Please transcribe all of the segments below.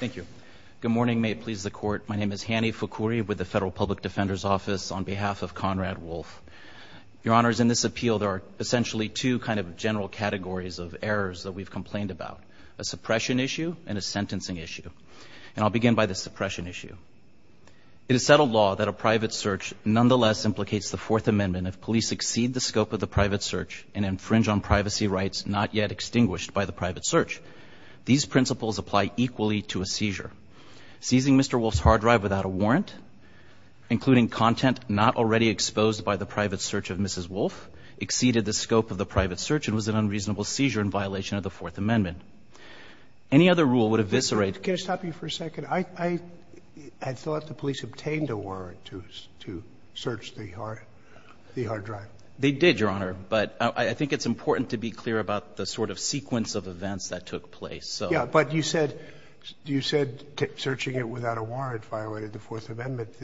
Thank you. Good morning. May it please the court. My name is Hany Fukury with the Federal Public Defender's Office on behalf of Konrad Wolff. Your Honors, in this appeal there are essentially two kind of general categories of errors that we've complained about, a suppression issue and a sentencing issue. And I'll begin by the suppression issue. It is settled law that a private search nonetheless implicates the Fourth Amendment if police exceed the scope of the private search and infringe on privacy rights not yet extinguished by the private search. These principles apply equally to a seizure. Seizing Mr. Wolff's hard drive without a warrant, including content not already exposed by the private search of Mrs. Wolff, exceeded the scope of the private search and was an unreasonable seizure in violation of the Fourth Amendment. Any other rule would eviscerate – Sotomayor Can I stop you for a second? I thought the police obtained a warrant to search the hard drive. They did, Your Honor. But I think it's important to be clear about the sort of sequence of events that took place. Yeah. But you said searching it without a warrant violated the Fourth Amendment.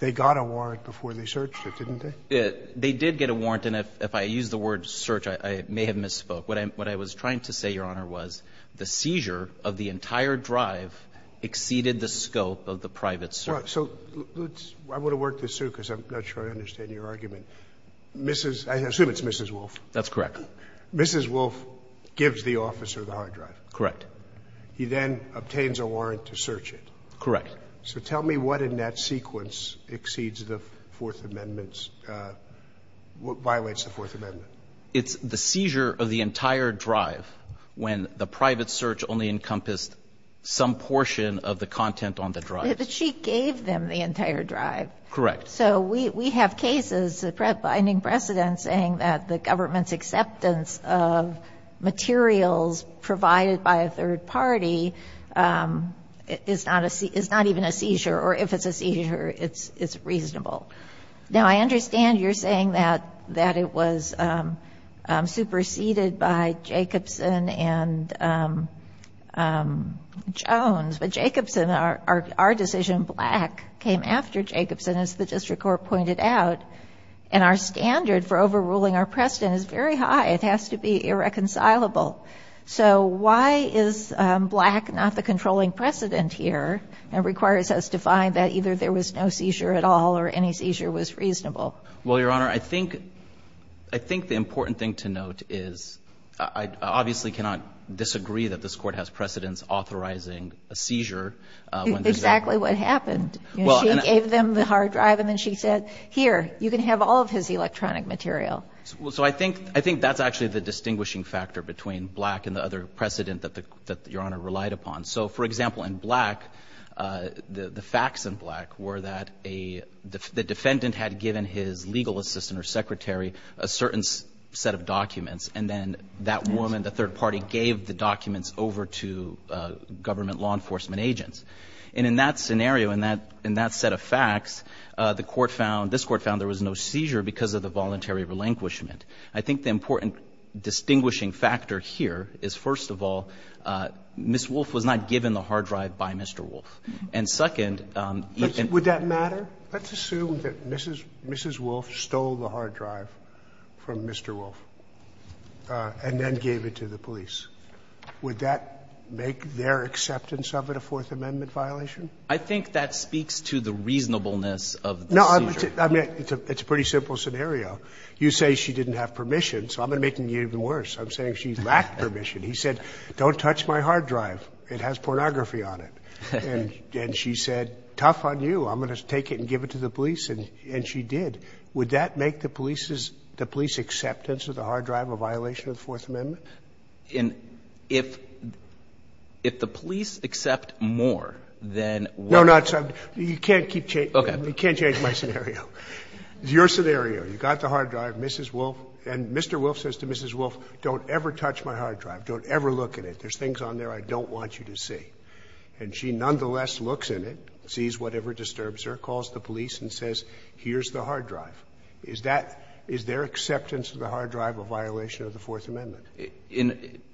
They got a warrant before they searched it, didn't they? They did get a warrant. And if I use the word search, I may have misspoke. What I was trying to say, Your Honor, was the seizure of the entire drive exceeded the scope of the private search. So let's – I want to work this through because I'm not sure I understand your argument. Mrs. – I assume it's Mrs. Wolff. That's correct. Mrs. Wolff gives the officer the hard drive. Correct. He then obtains a warrant to search it. Correct. So tell me what in that sequence exceeds the Fourth Amendment's – violates the Fourth Amendment. It's the seizure of the entire drive when the private search only encompassed some portion of the content on the drive. But she gave them the entire drive. Correct. So we have cases, the binding precedent saying that the government's acceptance of materials provided by a third party is not even a seizure, or if it's a seizure, it's reasonable. Now, I understand you're saying that it was superseded by Jacobson and Jones. But Jacobson, our decision, Black, came after Jacobson, as the district court pointed out. And our standard for overruling our precedent is very high. It has to be irreconcilable. So why is Black not the controlling precedent here and requires us to find that either there was no seizure at all or any seizure was reasonable? Well, Your Honor, I think the important thing to note is I obviously cannot disagree that this Court has precedents authorizing a seizure. Exactly what happened. She gave them the hard drive and then she said, here, you can have all of his electronic material. So I think that's actually the distinguishing factor between Black and the other precedent that Your Honor relied upon. So, for example, in Black, the facts in Black were that the defendant had given his legal assistant or secretary a certain set of documents. And then that woman, the third party, gave the documents over to government law enforcement agents. And in that scenario, in that set of facts, the Court found, this Court found there was no seizure because of the voluntary relinquishment. I think the important distinguishing factor here is, first of all, Ms. Wolfe was not given the hard drive by Mr. Wolfe. And, second, even — Would that matter? Let's assume that Mrs. Wolfe stole the hard drive from Mr. Wolfe and then gave it to the police. Would that make their acceptance of it a Fourth Amendment violation? I think that speaks to the reasonableness of the seizure. No. I mean, it's a pretty simple scenario. You say she didn't have permission, so I'm going to make it even worse. I'm saying she lacked permission. He said, don't touch my hard drive. It has pornography on it. And she said, tough on you. I'm going to take it and give it to the police. And she did. Would that make the police's — the police's acceptance of the hard drive a violation of the Fourth Amendment? And if — if the police accept more than what — No, no. You can't keep — Okay. You can't change my scenario. Your scenario, you've got the hard drive. Mrs. Wolfe — and Mr. Wolfe says to Mrs. Wolfe, don't ever touch my hard drive. Don't ever look at it. There's things on there I don't want you to see. And she nonetheless looks in it, sees whatever disturbs her, calls the police and says, here's the hard drive. Is that — is their acceptance of the hard drive a violation of the Fourth Amendment? In —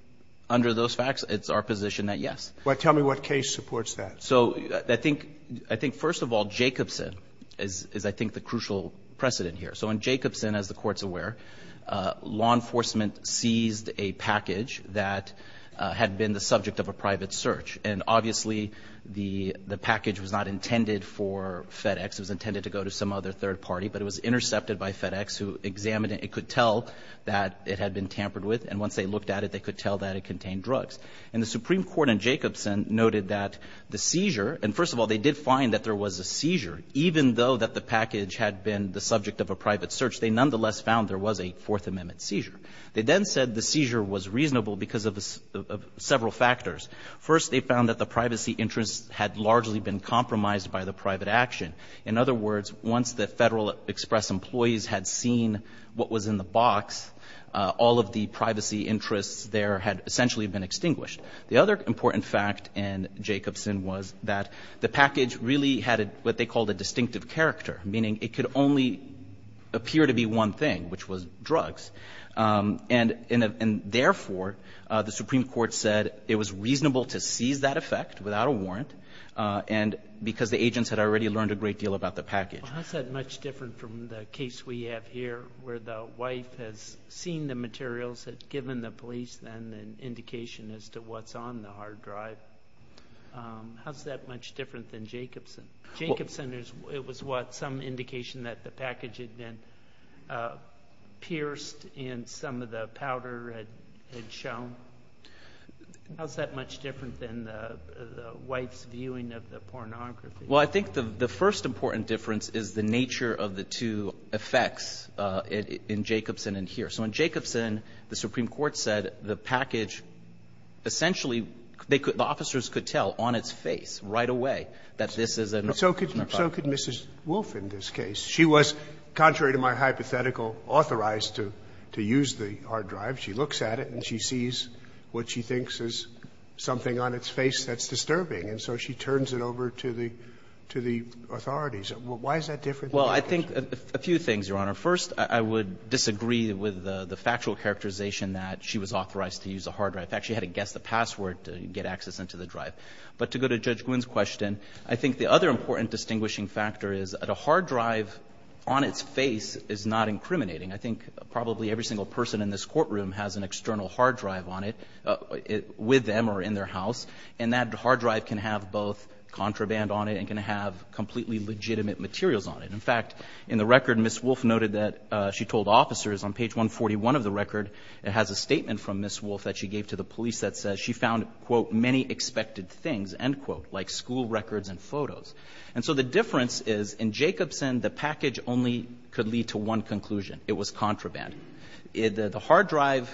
under those facts, it's our position that, yes. Well, tell me what case supports that. So I think — I think, first of all, Jacobson is — is, I think, the crucial precedent here. So in Jacobson, as the Court's aware, law enforcement seized a package that had been the subject of a private search. And obviously, the package was not intended for FedEx. It was intended to go to some other third party. But it was intercepted by FedEx, who examined it. It could tell that it had been tampered with. And once they looked at it, they could tell that it contained drugs. And the Supreme Court in Jacobson noted that the seizure — and first of all, they did find that there was a seizure. Even though that the package had been the subject of a private search, they nonetheless found there was a Fourth Amendment seizure. They then said the seizure was reasonable because of several factors. First, they found that the privacy interests had largely been compromised by the private action. In other words, once the Federal Express employees had seen what was in the box, all of the privacy interests there had essentially been extinguished. The other important fact in Jacobson was that the package really had what they called a distinctive character, meaning it could only appear to be one thing, which was drugs. And therefore, the Supreme Court said it was reasonable to seize that effect without a warrant and because the agents had already learned a great deal about the package. Well, how is that much different from the case we have here where the wife has seen the materials, had given the police then an indication as to what's on the hard drive? How is that much different than Jacobson? It was what? Some indication that the package had been pierced and some of the powder had shown? How is that much different than the wife's viewing of the pornography? Well, I think the first important difference is the nature of the two effects in Jacobson and here. So in Jacobson, the Supreme Court said the package essentially the officers could tell on its face right away that this is a. So could Mrs. Wolfe in this case. She was, contrary to my hypothetical, authorized to use the hard drive. She looks at it and she sees what she thinks is something on its face that's disturbing and so she turns it over to the authorities. Why is that different? Well, I think a few things, Your Honor. First, I would disagree with the factual characterization that she was authorized to use a hard drive. In fact, she had to guess the password to get access into the drive. But to go to Judge Gwinn's question, I think the other important distinguishing factor is the hard drive on its face is not incriminating. I think probably every single person in this courtroom has an external hard drive on it with them or in their house, and that hard drive can have both contraband on it and can have completely legitimate materials on it. In fact, in the record, Mrs. Wolfe noted that she told officers on page 141 of the record it has a statement from Mrs. Wolfe that she gave to the police that says she found, quote, many expected things, end quote, like school records and photos. And so the difference is in Jacobson, the package only could lead to one conclusion. It was contraband. The hard drive,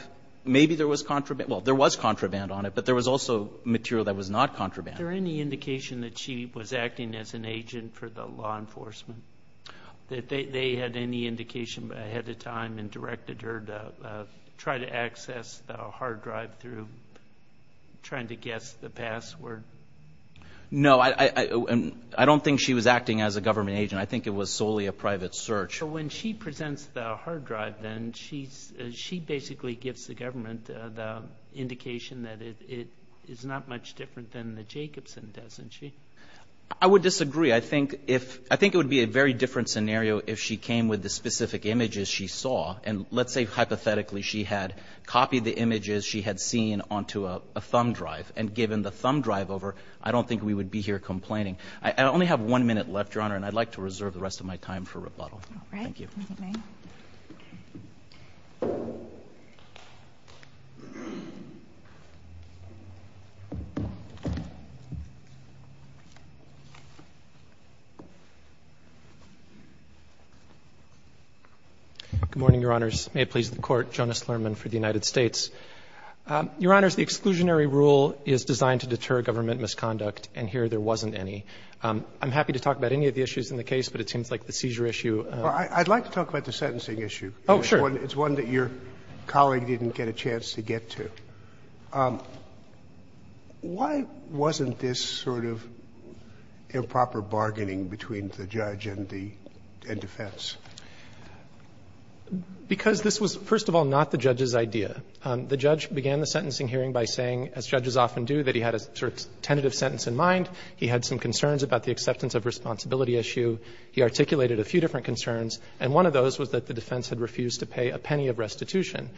maybe there was contraband. Well, there was contraband on it, but there was also material that was not contraband. Is there any indication that she was acting as an agent for the law enforcement, that they had any indication ahead of time and directed her to try to access the hard drive through trying to guess the password? No, I don't think she was acting as a government agent. I think it was solely a private search. So when she presents the hard drive then, she basically gives the government the indication that it is not much different than the Jacobson, doesn't she? I would disagree. I think it would be a very different scenario if she came with the specific images she saw and let's say hypothetically she had copied the images she had seen onto a thumb drive and given the thumb drive over, I don't think we would be here complaining. I only have one minute left, Your Honor, and I'd like to reserve the rest of my time for rebuttal. All right. Thank you. Good evening. Good morning, Your Honors. May it please the Court. Jonas Lerman for the United States. Your Honors, the exclusionary rule is designed to deter government misconduct, and here there wasn't any. I'm happy to talk about any of the issues in the case, but it seems like the seizure issue. Well, I'd like to talk about the sentencing issue. Oh, sure. It's one that your colleague didn't get a chance to get to. Why wasn't this sort of improper bargaining between the judge and the defense? Because this was, first of all, not the judge's idea. The judge began the sentencing hearing by saying, as judges often do, that he had a sort of tentative sentence in mind. He had some concerns about the acceptance of responsibility issue. He articulated a few different concerns, and one of those was that the defense had refused to pay a penny of restitution.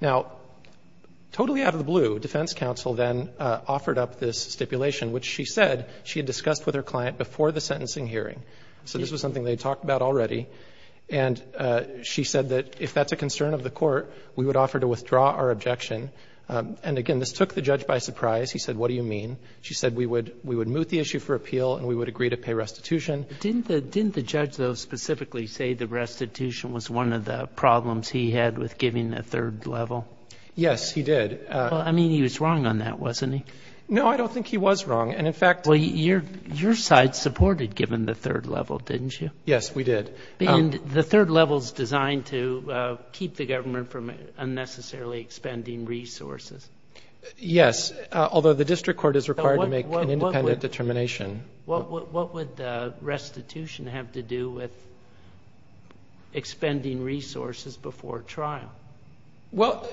Now, totally out of the blue, defense counsel then offered up this stipulation, which she said she had discussed with her client before the sentencing hearing. So this was something they had talked about already. And she said that if that's a concern of the Court, we would offer to withdraw our objection. And, again, this took the judge by surprise. He said, what do you mean? She said we would moot the issue for appeal and we would agree to pay restitution. Didn't the judge, though, specifically say the restitution was one of the problems he had with giving a third level? Yes, he did. I mean, he was wrong on that, wasn't he? No, I don't think he was wrong. And, in fact, your side supported giving the third level, didn't you? Yes, we did. And the third level is designed to keep the government from unnecessarily expending resources. Yes, although the district court is required to make an independent determination. What would restitution have to do with expending resources before trial? Well,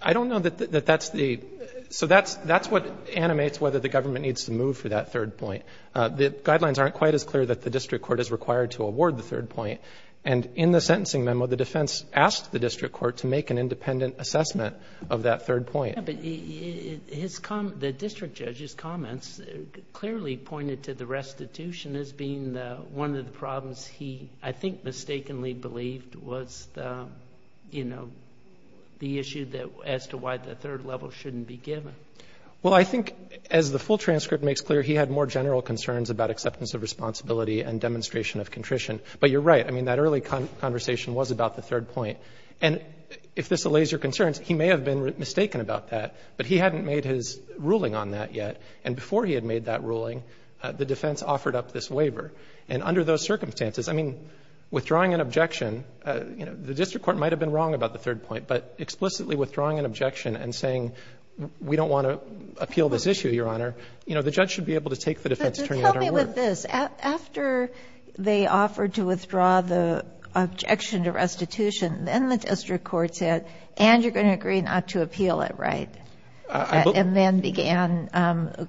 I don't know that that's the – so that's what animates whether the government needs to move for that third point. The guidelines aren't quite as clear that the district court is required to award the third point. And in the sentencing memo, the defense asked the district court to make an independent assessment of that third point. Yeah, but his – the district judge's comments clearly pointed to the restitution as being one of the problems he, I think, mistakenly believed was the, you know, the issue as to why the third level shouldn't be given. Well, I think, as the full transcript makes clear, he had more general concerns about acceptance of responsibility and demonstration of contrition. But you're right. I mean, that early conversation was about the third point. And if this allays your concerns, he may have been mistaken about that. But he hadn't made his ruling on that yet. And before he had made that ruling, the defense offered up this waiver. And under those circumstances, I mean, withdrawing an objection, you know, the district court might have been wrong about the third point. But explicitly withdrawing an objection and saying, we don't want to appeal this issue, Your Honor, you know, the judge should be able to take the defense attorney out of her work. But here's the thing about this. After they offered to withdraw the objection to restitution, then the district court said, and you're going to agree not to appeal it, right? And then began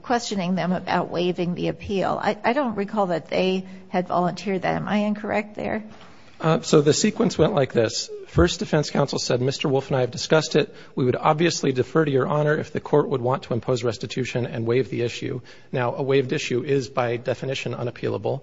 questioning them about waiving the appeal. I don't recall that they had volunteered that. Am I incorrect there? So the sequence went like this. First, defense counsel said, Mr. Wolf and I have discussed it. We would obviously defer to Your Honor if the court would want to impose restitution and waive the issue. Now, a waived issue is by definition unappealable.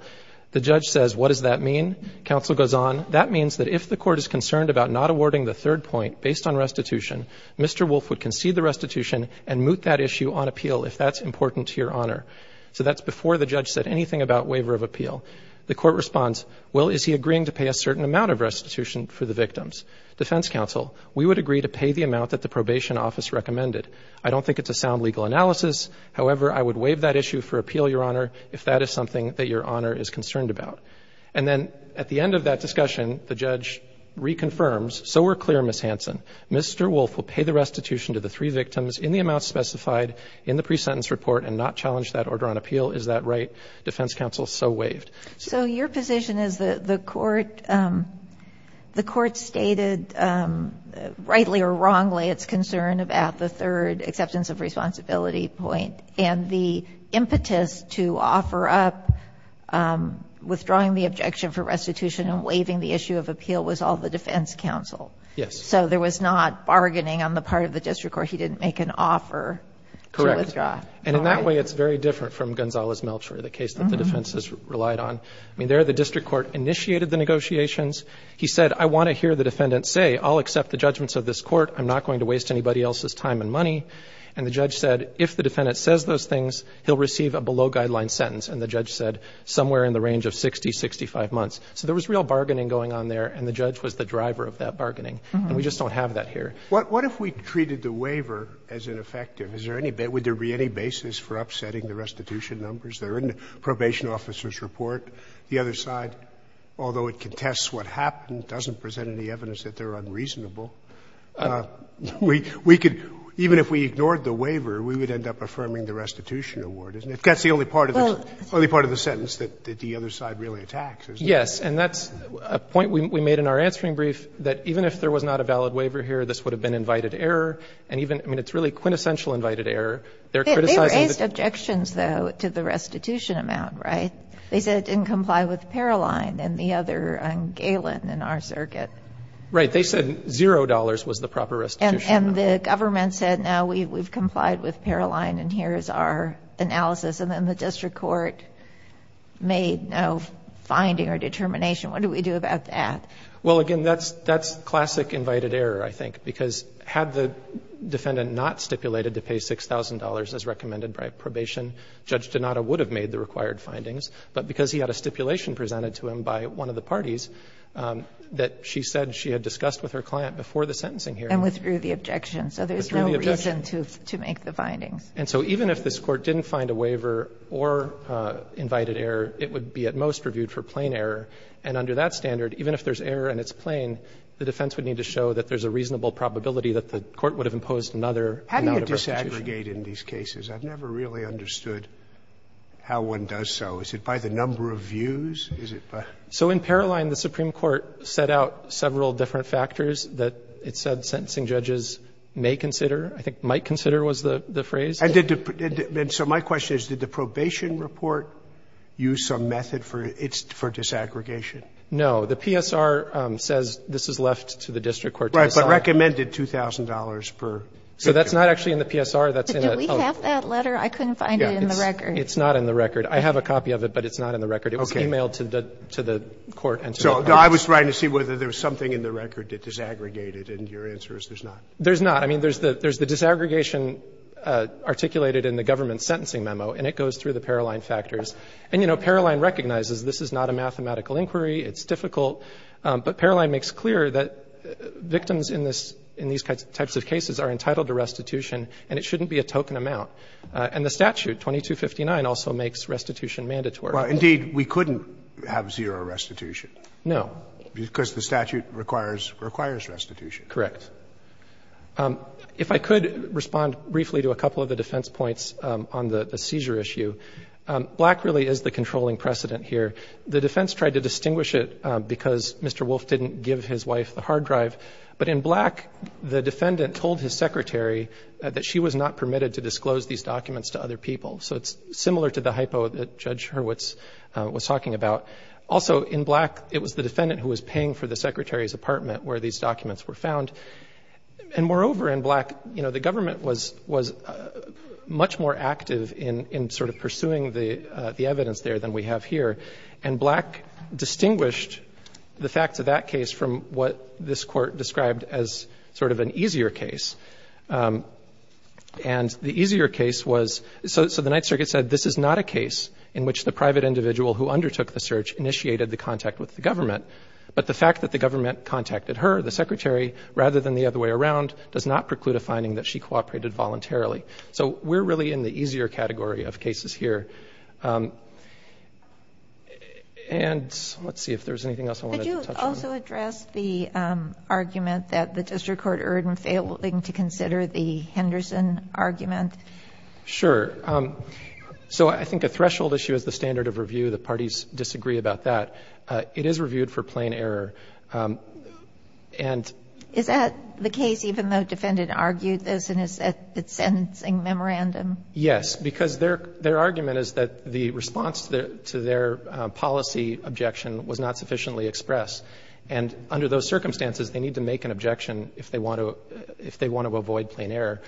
The judge says, what does that mean? Counsel goes on. That means that if the court is concerned about not awarding the third point based on restitution, Mr. Wolf would concede the restitution and moot that issue on appeal if that's important to Your Honor. So that's before the judge said anything about waiver of appeal. The court responds, well, is he agreeing to pay a certain amount of restitution for the victims? Defense counsel, we would agree to pay the amount that the probation office recommended. I don't think it's a sound legal analysis. However, I would waive that issue for appeal, Your Honor, if that is something that Your Honor is concerned about. And then at the end of that discussion, the judge reconfirms, so we're clear, Ms. Hansen. Mr. Wolf will pay the restitution to the three victims in the amount specified in the pre-sentence report and not challenge that order on appeal. Is that right? Defense counsel so waived. So your position is that the court, the court stated rightly or wrongly its concern about the third acceptance of responsibility point. And the impetus to offer up withdrawing the objection for restitution and waiving the issue of appeal was all the defense counsel. Yes. So there was not bargaining on the part of the district court. He didn't make an offer to withdraw. Correct. And in that way, it's very different from Gonzales-Melcher, the case that the defense has relied on. I mean, there the district court initiated the negotiations. He said, I want to hear the defendant say, I'll accept the judgments of this court. I'm not going to waste anybody else's time and money. And the judge said, if the defendant says those things, he'll receive a below guideline sentence. And the judge said somewhere in the range of 60, 65 months. So there was real bargaining going on there, and the judge was the driver of that bargaining. And we just don't have that here. What if we treated the waiver as ineffective? Is there any basis for upsetting the restitution numbers? They're in the probation officer's report. The other side, although it contests what happened, doesn't present any evidence that they're unreasonable. We could, even if we ignored the waiver, we would end up affirming the restitution award, isn't it? That's the only part of the sentence that the other side really attacks, isn't it? Yes. And that's a point we made in our answering brief, that even if there was not a valid waiver here, this would have been invited error. And even, I mean, it's really quintessential invited error. They're criticizing the other. They raised objections, though, to the restitution amount, right? They said it didn't comply with Paroline and the other galen in our circuit. Right. They said $0 was the proper restitution amount. And the government said, no, we've complied with Paroline and here is our analysis. And then the district court made no finding or determination. What do we do about that? Well, again, that's classic invited error, I think, because had the defendant not stipulated to pay $6,000 as recommended by probation, Judge Donato would have made the required findings. But because he had a stipulation presented to him by one of the parties that she said she had discussed with her client before the sentencing hearing. And withdrew the objection. So there's no reason to make the findings. And so even if this Court didn't find a waiver or invited error, it would be at most reviewed for plain error. And under that standard, even if there's error and it's plain, the defense would need to show that there's a reasonable probability that the Court would have imposed another amount of restitution. How do you disaggregate in these cases? I've never really understood how one does so. Is it by the number of views? Is it by? So in Paroline, the Supreme Court set out several different factors that it said sentencing judges may consider, I think might consider was the phrase. And did the – and so my question is, did the probation report use some method for its – for disaggregation? No. The PSR says this is left to the district court to decide. Right. But recommended $2,000 per victim. So that's not actually in the PSR. That's in a – But do we have that letter? I couldn't find it in the record. It's not in the record. I have a copy of it, but it's not in the record. Okay. It was emailed to the – to the Court and to the courts. So I was trying to see whether there was something in the record that disaggregated, and your answer is there's not. There's not. I mean, there's the – there's the disaggregation articulated in the government's sentencing memo, and it goes through the Paroline factors. And, you know, Paroline recognizes this is not a mathematical inquiry. It's difficult. But Paroline makes clear that victims in this – in these types of cases are entitled to restitution, and it shouldn't be a token amount. And the statute, 2259, also makes restitution mandatory. Well, indeed, we couldn't have zero restitution. No. Because the statute requires – requires restitution. Correct. If I could respond briefly to a couple of the defense points on the seizure issue. Black really is the controlling precedent here. The defense tried to distinguish it because Mr. Wolfe didn't give his wife the hard drive. But in Black, the defendant told his secretary that she was not permitted to disclose these documents to other people. So it's similar to the hypo that Judge Hurwitz was talking about. Also, in Black, it was the defendant who was paying for the secretary's apartment where these documents were found. And moreover, in Black, you know, the government was – was much more active in sort of pursuing the evidence there than we have here. And Black distinguished the facts of that case from what this Court described as sort of an easier case. And the easier case was – so the Ninth Circuit said this is not a case in which the private individual who undertook the search initiated the contact with the government. But the fact that the government contacted her, the secretary, rather than the other way around, does not preclude a finding that she cooperated voluntarily. So we're really in the easier category of cases here. And let's see if there's anything else I wanted to touch on. Did you also address the argument that the district court erred in failing to consider the Henderson argument? Sure. So I think a threshold issue is the standard of review. The parties disagree about that. It is reviewed for plain error. And – Is that the case even though the defendant argued this in his sentencing memorandum? Yes, because their – their argument is that the response to their policy objection was not sufficiently expressed. And under those circumstances, they need to make an objection if they want to – if they want to avoid plain error.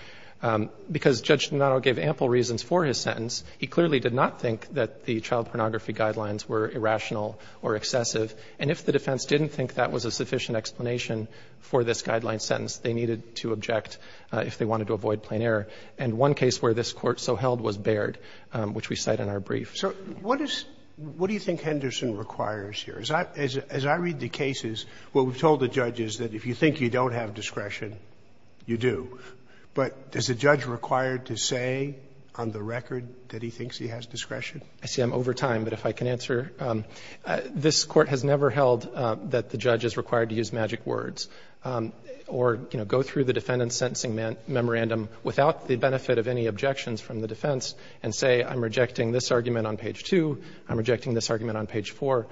Because Judge Notto gave ample reasons for his sentence. He clearly did not think that the child pornography guidelines were irrational or excessive. And if the defense didn't think that was a sufficient explanation for this guideline sentence, they needed to object if they wanted to avoid plain error. And one case where this Court so held was Baird, which we cite in our brief. So what is – what do you think Henderson requires here? As I – as I read the cases, what we've told the judge is that if you think you don't have discretion, you do. But is the judge required to say on the record that he thinks he has discretion? I see I'm over time, but if I can answer. This Court has never held that the judge is required to use magic words or, you know, go through the defendant's sentencing memorandum without the benefit of any objections from the defense and say, I'm rejecting this argument on page 2, I'm rejecting this argument on page 4.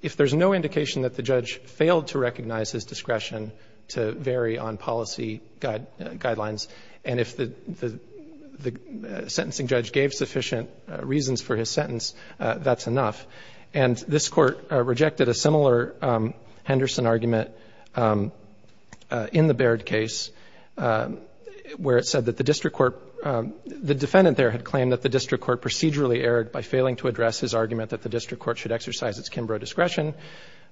If there's no indication that the judge failed to recognize his discretion to vary on policy guidelines, and if the – the sentencing judge gave sufficient reasons for his sentence, that's enough. And this Court rejected a similar Henderson argument in the Baird case where it said that the district court – the defendant there had claimed that the district court procedurally erred by failing to address his argument that the district court should exercise its Kimbrough discretion,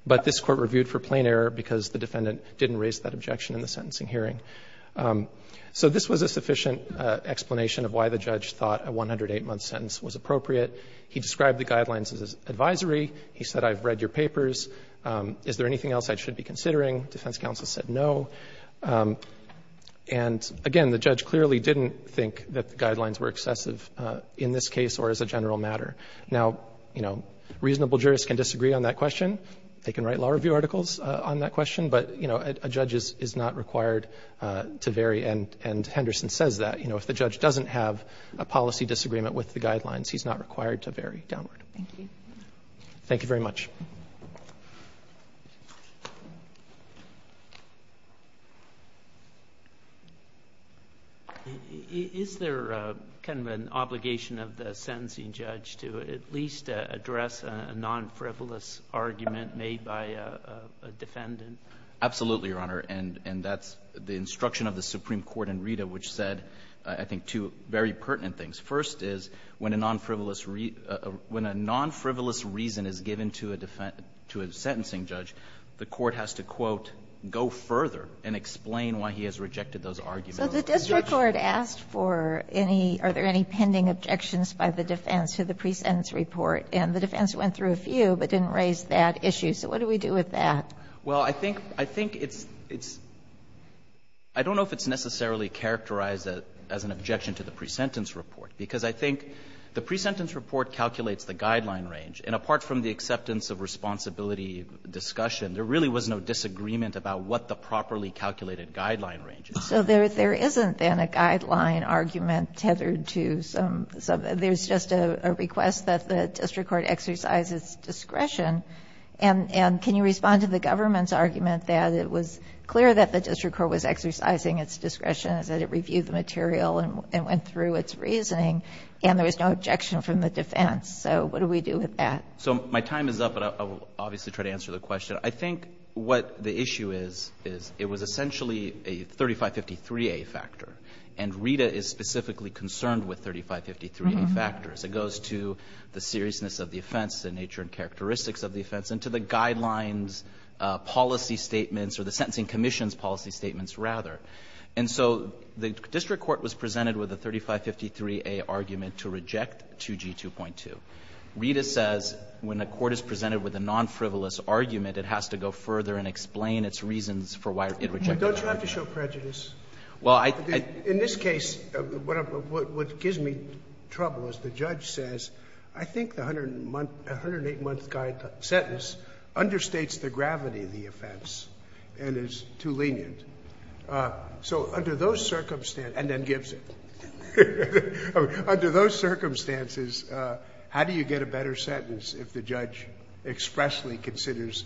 but this Court reviewed for plain error because the defendant didn't raise that objection in the sentencing hearing. So this was a sufficient explanation of why the judge thought a 108-month sentence was appropriate. He described the guidelines as advisory. He said, I've read your papers. Is there anything else I should be considering? Defense counsel said no. And, again, the judge clearly didn't think that the guidelines were excessive in this case or as a general matter. Now, you know, reasonable jurists can disagree on that question. They can write law review articles on that question. But, you know, a judge is not required to vary, and Henderson says that. You know, if the judge doesn't have a policy disagreement with the guidelines, he's not required to vary downward. Thank you. Thank you very much. Is there kind of an obligation of the sentencing judge to at least address a non-frivolous argument made by a defendant? Absolutely, Your Honor. And that's the instruction of the Supreme Court in Rita, which said, I think, two very pertinent things. First is, when a non-frivolous reason is given to a defendant, the defendant to a sentencing judge, the court has to, quote, go further and explain why he has rejected those arguments. So the district court asked for any, are there any pending objections by the defense to the pre-sentence report, and the defense went through a few but didn't raise that issue. So what do we do with that? Well, I think it's, I don't know if it's necessarily characterized as an objection to the pre-sentence report, because I think the pre-sentence report calculates the guideline range. And apart from the acceptance of responsibility discussion, there really was no disagreement about what the properly calculated guideline range is. So there isn't, then, a guideline argument tethered to some, there's just a request that the district court exercise its discretion. And can you respond to the government's argument that it was clear that the district court was exercising its discretion, that it reviewed the material and went through its reasoning, and there was no objection from the defense? So what do we do with that? So my time is up, but I will obviously try to answer the question. I think what the issue is, is it was essentially a 3553A factor. And RETA is specifically concerned with 3553A factors. It goes to the seriousness of the offense, the nature and characteristics of the offense, and to the guidelines, policy statements, or the sentencing commission's policy statements, rather. And so the district court was presented with a 3553A argument to reject 2G2.2. RETA says when a court is presented with a non-frivolous argument, it has to go further and explain its reasons for why it rejected it. Sotomayor, don't you have to show prejudice? Well, I think I do. In this case, what gives me trouble is the judge says, I think the 108-month sentence understates the gravity of the offense and is too lenient. So under those circumstances, and then gives it. Under those circumstances, how do you get a better sentence if the judge expressly considers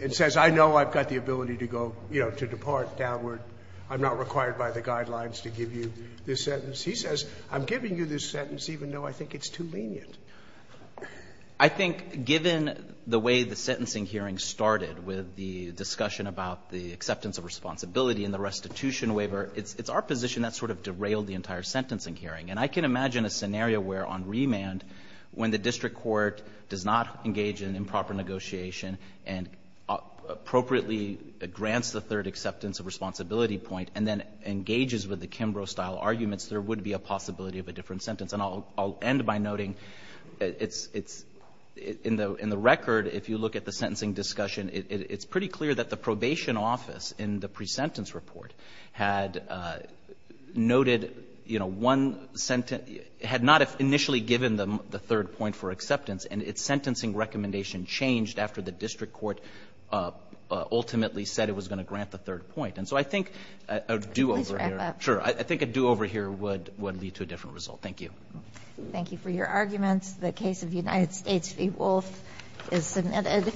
and says, I know I've got the ability to go, you know, to depart downward. I'm not required by the guidelines to give you this sentence. He says, I'm giving you this sentence even though I think it's too lenient. I think given the way the sentencing hearing started with the discussion about the acceptance of responsibility and the restitution waiver, it's our position that sort of derailed the entire sentencing hearing. And I can imagine a scenario where on remand, when the district court does not engage in improper negotiation and appropriately grants the third acceptance of responsibility point and then engages with the Kimbrough-style arguments, there would be a possibility of a different sentence. And I'll end by noting it's — in the record, if you look at the sentencing discussion, it's pretty clear that the probation office in the pre-sentence report had noted, you know, one sentence — had not initially given them the third point for acceptance, and its sentencing recommendation changed after the district court ultimately said it was going to grant the third point. And so I think a do-over here — Please wrap up. Sure. I think a do-over here would lead to a different result. Thank you. Thank you for your arguments. The case of United States v. Wolf is submitted.